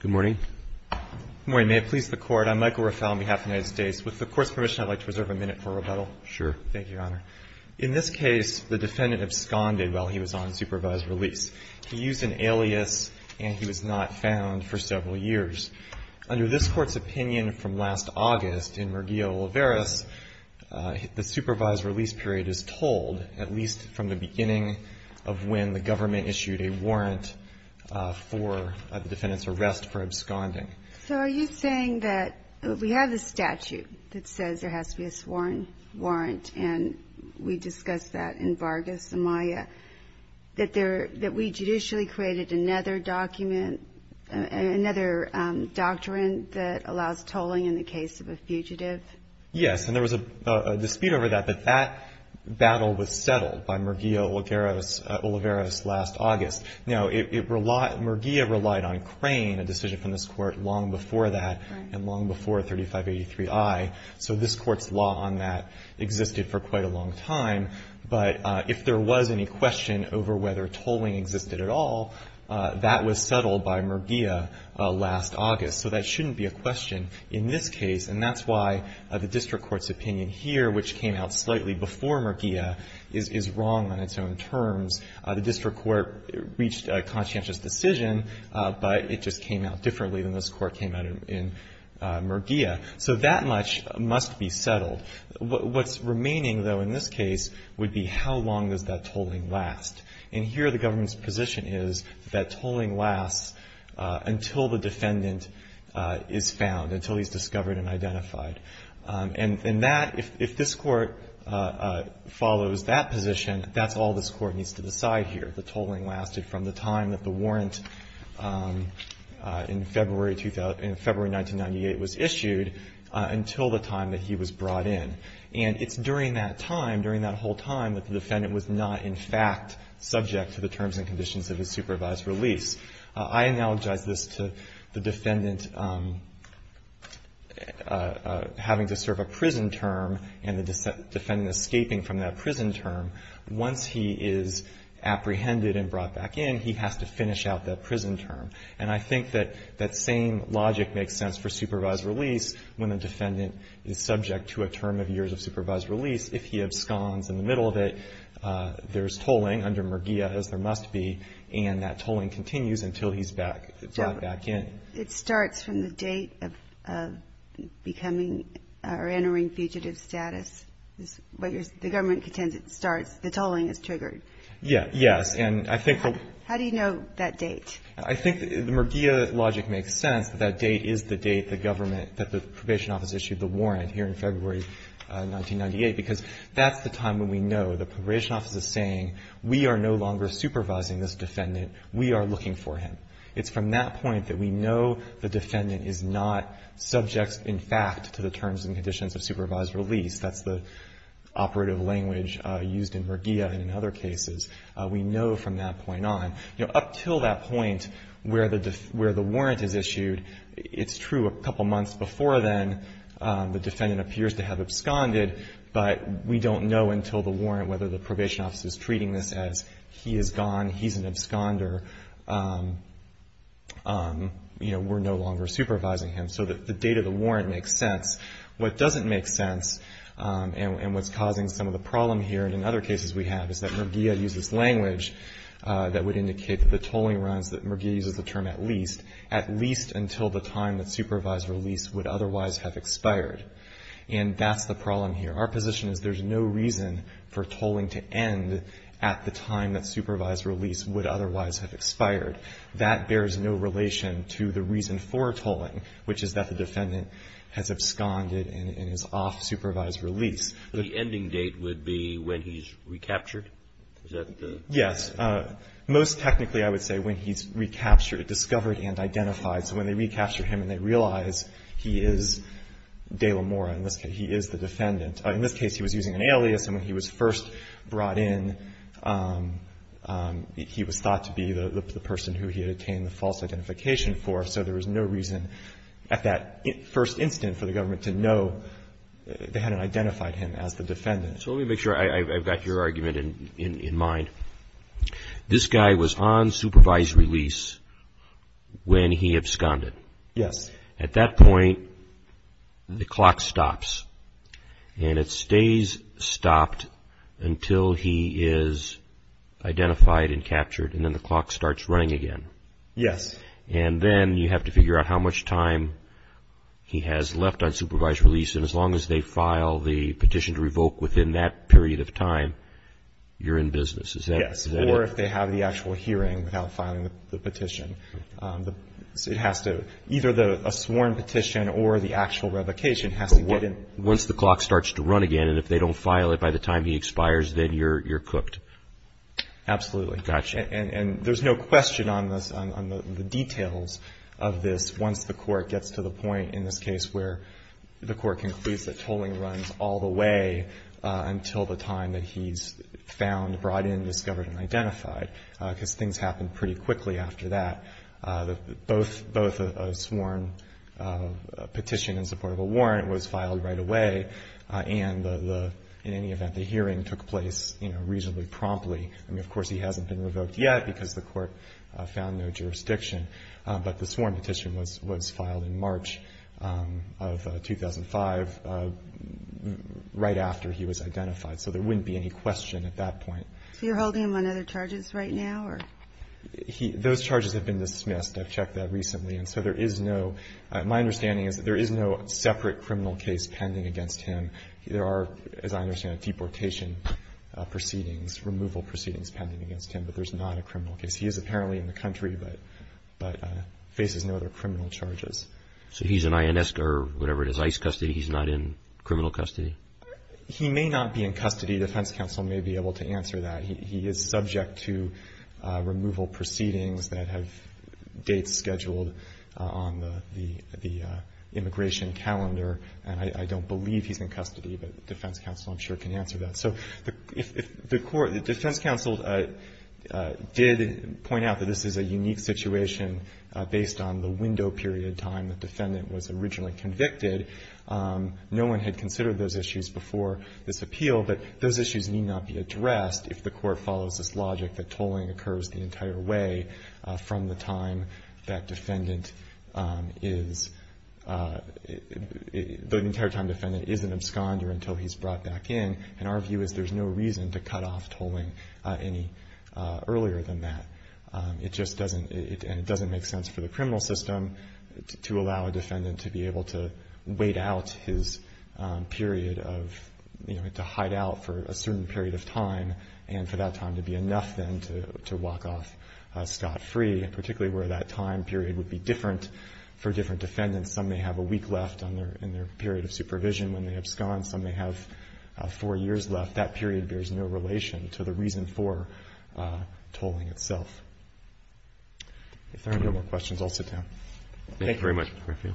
Good morning. Good morning. May it please the Court, I'm Michael Raphael on behalf of the United States. With the Court's permission, I'd like to reserve a minute for rebuttal. Sure. Thank you, Your Honor. In this case, the defendant absconded while he was on supervised release. He used an alias and he was not found for several years. Under this Court's opinion from last August in Murgillo-Oliveras, the supervised release period is told at least from the beginning of when the government issued a warrant for the defendant's arrest for absconding. So are you saying that we have the statute that says there has to be a sworn warrant, and we discussed that in Vargas, Amaya, that we judicially created another document, another doctrine that allows tolling in the case of a fugitive? Yes, and there was a dispute over that, but that battle was settled by Murgillo-Oliveras last August. Now, Murgillo relied on Crane, a decision from this Court, long before that and long before 3583I. So this Court's law on that existed for quite a long time. But if there was any question over whether tolling existed at all, that was settled by Murgillo last August. So that shouldn't be a question in this case, and that's why the district court's opinion here, which came out slightly before Murgillo, is wrong on its own terms. The district court reached a conscientious decision, but it just came out differently than this Court came out in Murgillo. So that much must be settled. What's remaining, though, in this case would be how long does that tolling last. And here the government's position is that tolling lasts until the defendant is found, until he's discovered and identified. And that, if this Court follows that position, that's all this Court needs to decide here. The tolling lasted from the time that the warrant in February 1998 was issued until the time that he was brought in. And it's during that time, during that whole time, that the defendant was not in fact subject to the terms and conditions of his supervised release. I analogize this to the defendant having to serve a prison term and the defendant escaping from that prison term. Once he is apprehended and brought back in, he has to finish out that prison term. And I think that that same logic makes sense for supervised release when a defendant is subject to a term of years of supervised release. If he absconds in the middle of it, there's tolling under Murgillo, as there must be, and that tolling continues until he's brought back in. It starts from the date of becoming or entering fugitive status. The government contends it starts, the tolling is triggered. Yes. And I think the ---- How do you know that date? I think the Murgillo logic makes sense, that that date is the date the government, that the probation office issued the warrant here in February 1998. Because that's the time when we know the probation office is saying, we are no longer supervising this defendant. We are looking for him. It's from that point that we know the defendant is not subject in fact to the terms and conditions of supervised release. That's the operative language used in Murgillo and in other cases. We know from that point on. Up until that point where the warrant is issued, it's true a couple months before then, the defendant appears to have absconded. But we don't know until the warrant whether the probation office is treating this as he is gone, he's an absconder. We're no longer supervising him. So the date of the warrant makes sense. What doesn't make sense and what's causing some of the problem here and in other cases we have is that Murgillo uses language that would indicate that the tolling runs, that Murgillo uses the term at least, at least until the time that supervised release would otherwise have expired. And that's the problem here. Our position is there's no reason for tolling to end at the time that supervised release would otherwise have expired. That bears no relation to the reason for tolling, which is that the defendant has absconded and is off supervised release. The ending date would be when he's recaptured? Is that the? Yes. Most technically I would say when he's recaptured, discovered and identified. So when they recapture him and they realize he is De La Mora, in this case he is the defendant. In this case he was using an alias and when he was first brought in, he was thought to be the person who he had attained the false identification for. So there was no reason at that first instant for the government to know they hadn't identified him as the defendant. So let me make sure I've got your argument in mind. This guy was on supervised release when he absconded. Yes. At that point the clock stops and it stays stopped until he is identified and captured and then the clock starts running again. Yes. And then you have to figure out how much time he has left on supervised release and as long as they file the petition to revoke within that period of time, you're in business. Yes. Or if they have the actual hearing without filing the petition. Either a sworn petition or the actual revocation has to get in. Once the clock starts to run again and if they don't file it by the time he expires, then you're cooked. Absolutely. Gotcha. And there's no question on this, on the details of this, once the court gets to the point in this case where the court concludes that tolling runs all the way until the time that he's found, brought in, discovered and identified, because things happen pretty quickly after that. Both a sworn petition in support of a warrant was filed right away and in any event, the hearing took place, you know, reasonably promptly. I mean, of course, he hasn't been revoked yet because the court found no jurisdiction, but the sworn petition was filed in March of 2005 right after he was identified. So there wouldn't be any question at that point. So you're holding him on other charges right now or? Those charges have been dismissed. I've checked that recently. And so there is no, my understanding is that there is no separate criminal case pending against him. There are, as I understand it, deportation proceedings, removal proceedings pending against him, but there's not a criminal case. He is apparently in the country but faces no other criminal charges. So he's in INS or whatever it is, ICE custody. He's not in criminal custody? He may not be in custody. Defense counsel may be able to answer that. He is subject to removal proceedings that have dates scheduled on the immigration calendar, and I don't believe he's in custody, but defense counsel I'm sure can answer that. So if the court, defense counsel did point out that this is a unique situation based on the window period of time the defendant was originally convicted, no one had considered those issues before this appeal, but those issues need not be addressed if the court follows this logic that tolling occurs the entire way from the time that defendant is, the entire time defendant is an absconder until he's brought back in. And our view is there's no reason to cut off tolling any earlier than that. It just doesn't, and it doesn't make sense for the criminal system to allow a defendant to be able to wait out his period of, you know, to hide out for a certain period of time, and for that time to be enough, then, to walk off scot-free, particularly where that time period would be different for different defendants. Some may have a week left in their period of supervision when they abscond. Some may have four years left. That period bears no relation to the reason for tolling itself. If there are no more questions, I'll sit down. Roberts. Thank you very much, Mr. Garfield.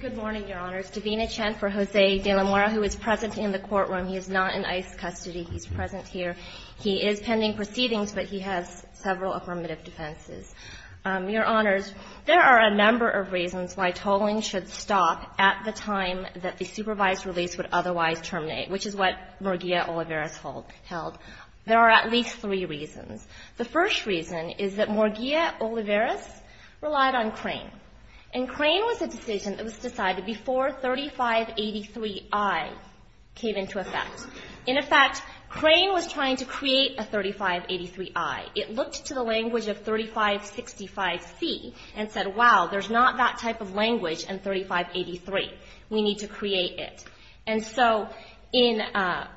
Good morning, Your Honors. I'm going to start with Stavina Chen for Jose de la Mora, who is present in the courtroom. He is not in ICE custody. He's present here. He is pending proceedings, but he has several affirmative defenses. Your Honors, there are a number of reasons why tolling should stop at the time that the supervised release would otherwise terminate, which is what Morgia Olivares held. There are at least three reasons. The first reason is that Morgia Olivares relied on Crane, and Crane was a decision that was decided before 3583I came into effect. In effect, Crane was trying to create a 3583I. It looked to the language of 3565C and said, wow, there's not that type of language in 3583. We need to create it. And so in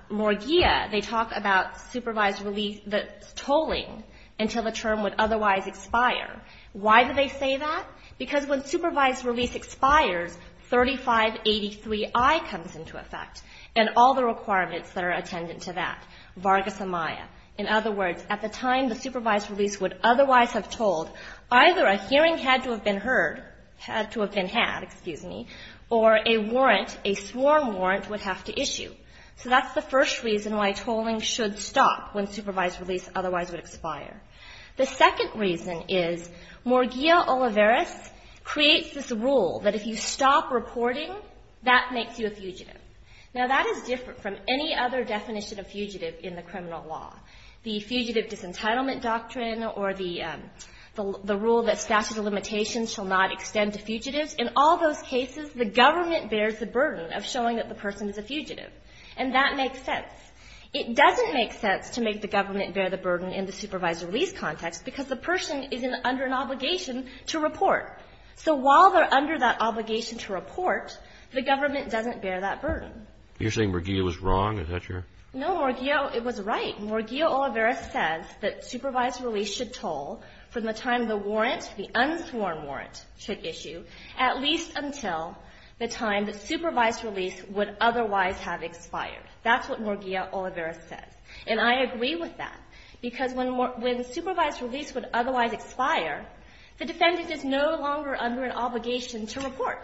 Morgia, they talk about supervised release, the tolling, until the term would otherwise expire. Why do they say that? Because when supervised release expires, 3583I comes into effect, and all the requirements that are attendant to that, Vargas Amaya. In other words, at the time the supervised release would otherwise have tolled, either a hearing had to have been heard, had to have been had, excuse me, or a warrant, a sworn warrant would have to issue. So that's the first reason why tolling should stop when supervised release otherwise would expire. The second reason is Morgia Olivares creates this rule that if you stop reporting, that makes you a fugitive. Now, that is different from any other definition of fugitive in the criminal law. The fugitive disentitlement doctrine or the rule that statute of limitations shall not extend to fugitives, in all those cases, the government bears the burden of showing that the person is a fugitive. And that makes sense. It doesn't make sense to make the government bear the burden in the supervised release context because the person is under an obligation to report. So while they're under that obligation to report, the government doesn't bear that burden. You're saying Morgia was wrong? Is that your? No, Morgia, it was right. Morgia Olivares says that supervised release should toll from the time the warrant, the unsworn warrant, should issue at least until the time that supervised release would otherwise have expired. That's what Morgia Olivares says. And I agree with that because when supervised release would otherwise expire, the defendant is no longer under an obligation to report.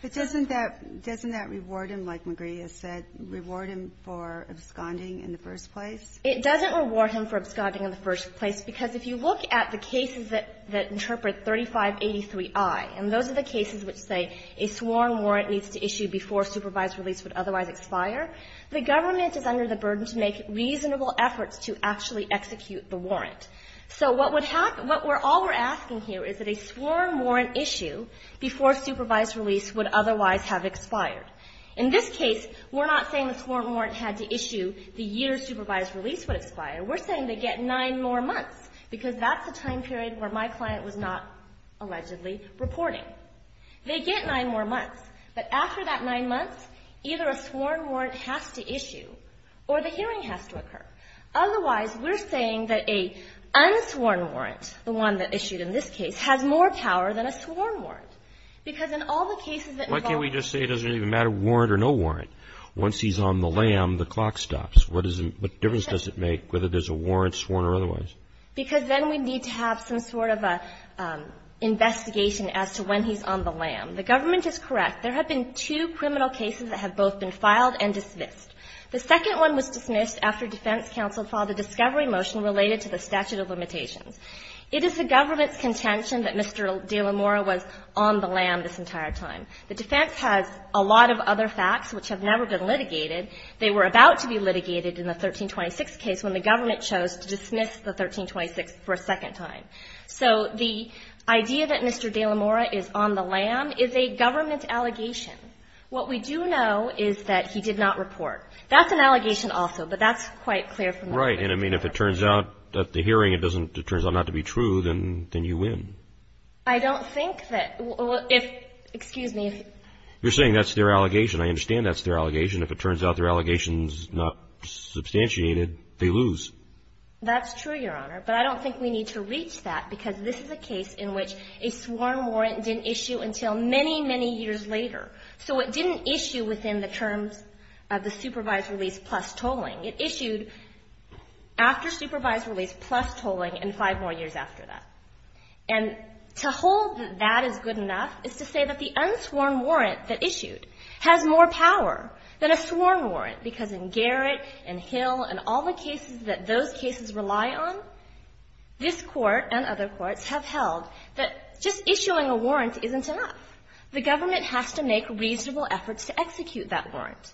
But doesn't that reward him, like Morgia said, reward him for absconding in the first place? It doesn't reward him for absconding in the first place because if you look at the cases that interpret 3583i, and those are the cases which say a sworn warrant needs to issue before supervised release would otherwise expire, the government is under the burden to make reasonable efforts to actually execute the warrant. So what would happen, what we're all we're asking here is that a sworn warrant issue before supervised release would otherwise have expired. In this case, we're not saying the sworn warrant had to issue the year supervised release would expire. We're saying they get nine more months because that's the time period where my client was not allegedly reporting. They get nine more months. But after that nine months, either a sworn warrant has to issue or the hearing has to occur. Otherwise, we're saying that a unsworn warrant, the one that issued in this case, has more power than a sworn warrant. Because in all the cases that involve the lawyer. Why can't we just say it doesn't even matter, warrant or no warrant? Once he's on the lam, the clock stops. What is the, what difference does it make whether there's a warrant, sworn or otherwise? Because then we need to have some sort of an investigation as to when he's on the lam. The government is correct. There have been two criminal cases that have both been filed and dismissed. The second one was dismissed after defense counsel filed a discovery motion related to the statute of limitations. It is the government's contention that Mr. De La Mora was on the lam this entire time. The defense has a lot of other facts which have never been litigated. They were about to be litigated in the 1326 case when the government chose to dismiss the 1326 for a second time. So the idea that Mr. De La Mora is on the lam is a government allegation. What we do know is that he did not report. That's an allegation also. But that's quite clear from the defense. Right. And, I mean, if it turns out at the hearing it doesn't, it turns out not to be true, then you win. I don't think that, well, if, excuse me. You're saying that's their allegation. I understand that's their allegation. If it turns out their allegation's not substantiated, they lose. That's true, Your Honor. But I don't think we need to reach that because this is a case in which a sworn warrant didn't issue until many, many years later. So it didn't issue within the terms of the supervised release plus tolling. It issued after supervised release plus tolling and five more years after that. And to hold that that is good enough is to say that the unsworn warrant that issued has more power than a sworn warrant because in Garrett and Hill and all the cases that those cases rely on, this Court and other courts have held that just issuing a warrant isn't enough. The government has to make reasonable efforts to execute that warrant.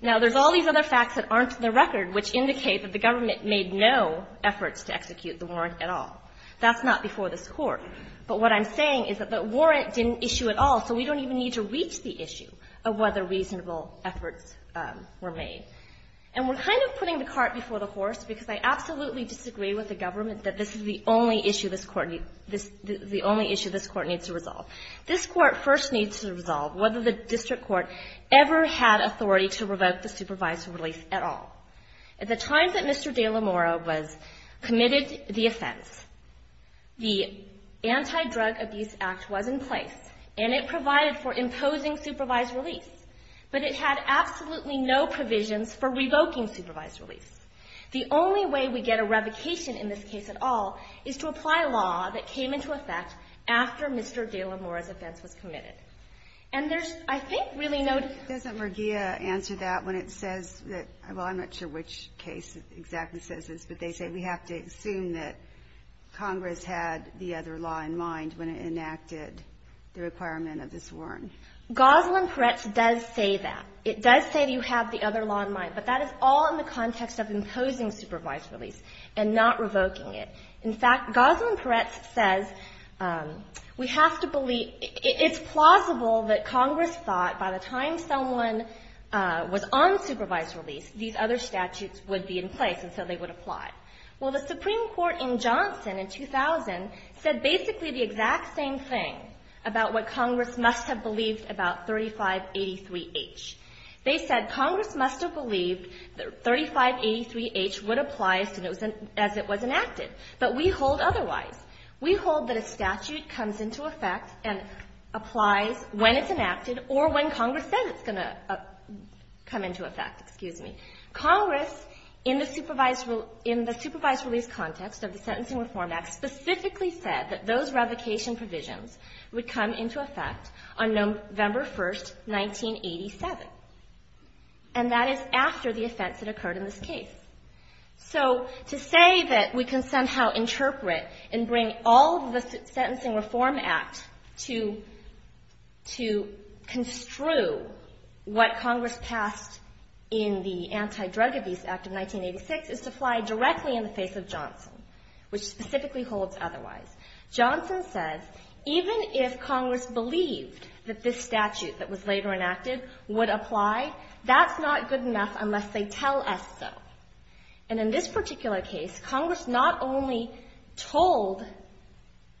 Now, there's all these other facts that aren't in the record which indicate that the government made no efforts to execute the warrant at all. That's not before this Court. But what I'm saying is that the warrant didn't issue at all, so we don't even need to reach the issue of whether reasonable efforts were made. And we're kind of putting the cart before the horse because I absolutely disagree with the government that this is the only issue this Court needs to resolve. This Court first needs to resolve whether the district court ever had authority to revoke the supervised release at all. At the time that Mr. De La Mora was committed the offense, the Anti-Drug Abuse Act was in place, and it provided for imposing supervised release. But it had absolutely no provisions for revoking supervised release. The only way we get a revocation in this case at all is to apply law that came into effect after Mr. De La Mora's offense was committed. And there's, I think, really no ---- Kagan. Doesn't Mergia answer that when it says that, well, I'm not sure which case exactly says this, but they say we have to assume that Congress had the other law in mind when it enacted the requirement of this warrant. Gosling-Perez does say that. It does say you have the other law in mind, but that is all in the context of imposing supervised release and not revoking it. In fact, Gosling-Perez says we have to believe ---- it's plausible that Congress thought by the time someone was on supervised release, these other statutes would be in place, and so they would apply. Well, the Supreme Court in Johnson in 2000 said basically the exact same thing about what Congress must have believed about 3583H. They said Congress must have believed that 3583H would apply as it was enacted, but we hold otherwise. We hold that a statute comes into effect and applies when it's enacted or when Congress says it's going to come into effect. Excuse me. Congress, in the supervised release context of the Sentencing Reform Act, specifically said that those revocation provisions would come into effect on November 1, 1987, and that is after the offense that occurred in this case. So to say that we can somehow interpret and bring all of the Sentencing Reform Act to construe what Congress passed in the Anti-Drug Abuse Act of 1986 is to fly directly in the face of Johnson, which specifically holds otherwise. Johnson says even if Congress believed that this statute that was later enacted would apply, that's not good enough unless they tell us so. And in this particular case, Congress not only told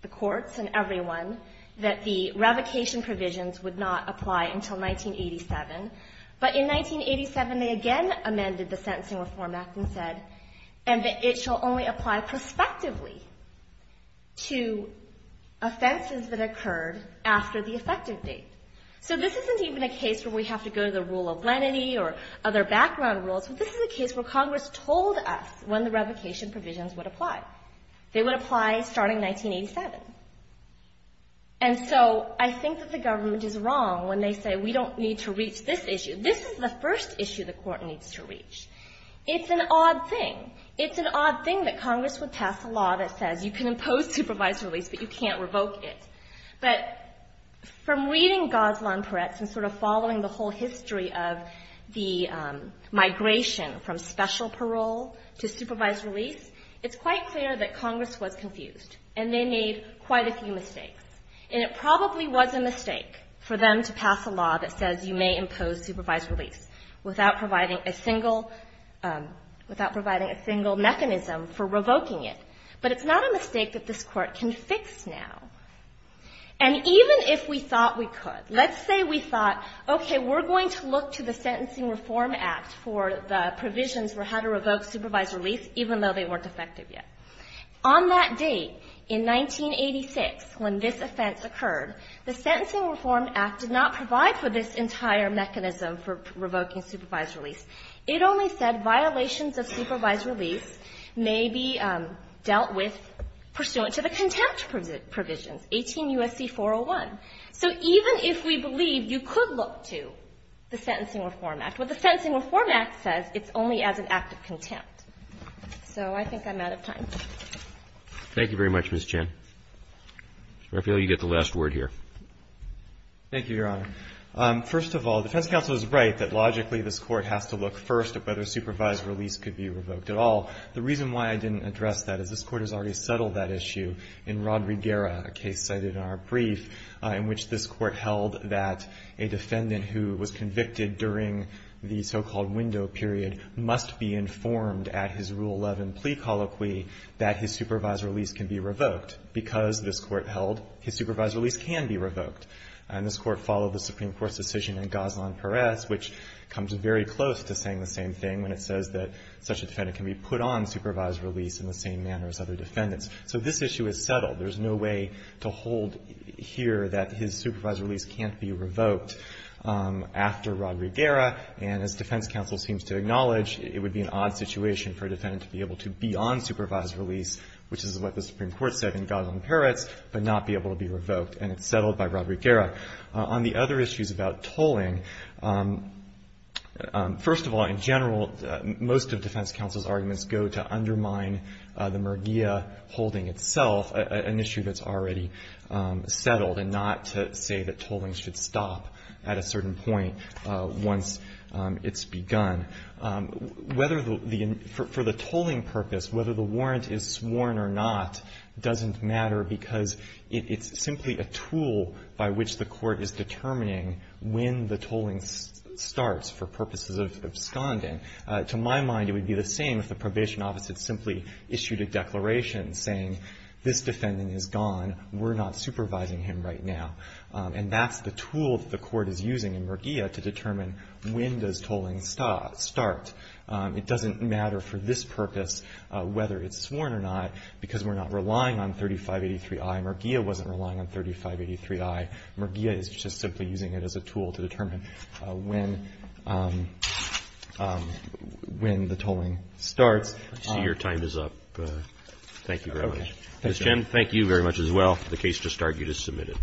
the courts and everyone that the revocation provisions would not apply until 1987, but in 1987 they again amended the statute so that it shall only apply prospectively to offenses that occurred after the effective date. So this isn't even a case where we have to go to the rule of lenity or other background rules. This is a case where Congress told us when the revocation provisions would apply. They would apply starting 1987. And so I think that the government is wrong when they say we don't need to reach this issue. This is the first issue the Court needs to reach. It's an odd thing. It's an odd thing that Congress would pass a law that says you can impose supervised release, but you can't revoke it. But from reading Goslon Peretz and sort of following the whole history of the migration from special parole to supervised release, it's quite clear that Congress was confused, and they made quite a few mistakes. And it probably was a mistake for them to pass a law that says you may impose supervised release without providing a single mechanism for revoking it. But it's not a mistake that this Court can fix now. And even if we thought we could, let's say we thought, okay, we're going to look to the Sentencing Reform Act for the provisions for how to revoke supervised release, even though they weren't effective yet. On that date, in 1986, when this offense occurred, the Sentencing Reform Act did not provide for this entire mechanism for revoking supervised release. It only said violations of supervised release may be dealt with pursuant to the contempt provisions, 18 U.S.C. 401. So even if we believe you could look to the Sentencing Reform Act, what the Sentencing Reform Act says, it's only as an act of contempt. So I think I'm out of time. Roberts. Thank you very much, Ms. Chen. I feel you get the last word here. Thank you, Your Honor. First of all, defense counsel is right that logically this Court has to look first at whether supervised release could be revoked at all. The reason why I didn't address that is this Court has already settled that issue in Rodriguera, a case cited in our brief, in which this Court held that a defendant who was convicted during the so-called window period must be informed at his Rule 11 plea colloquy that his supervised release can be revoked. Because, this Court held, his supervised release can be revoked. And this Court followed the Supreme Court's decision in Gaslan-Perez, which comes very close to saying the same thing when it says that such a defendant can be put on supervised release in the same manner as other defendants. So this issue is settled. There's no way to hold here that his supervised release can't be revoked after Rodriguera. And as defense counsel seems to acknowledge, it would be an odd situation for a defendant to be able to be on supervised release, which is what the Supreme Court said in Gaslan-Perez, but not be able to be revoked. And it's settled by Rodriguera. On the other issues about tolling, first of all, in general, most of defense counsel's arguments go to undermine the Murguia holding itself, an issue that's already settled and not to say that tolling should stop at a certain point once it's begun. Whether the — for the tolling purpose, whether the warrant is sworn or not doesn't matter because it's simply a tool by which the Court is determining when the tolling starts for purposes of absconding. To my mind, it would be the same if the probation office had simply issued a declaration saying this defendant is gone, we're not supervising him right now. And that's the tool that the Court is using in Murguia to determine when does tolling start. It doesn't matter for this purpose whether it's sworn or not because we're not relying on 3583I. Murguia wasn't relying on 3583I. Murguia is just simply using it as a tool to determine when the tolling starts. I see your time is up. Thank you very much. Ms. Chen, thank you very much as well. The case just argued is submitted.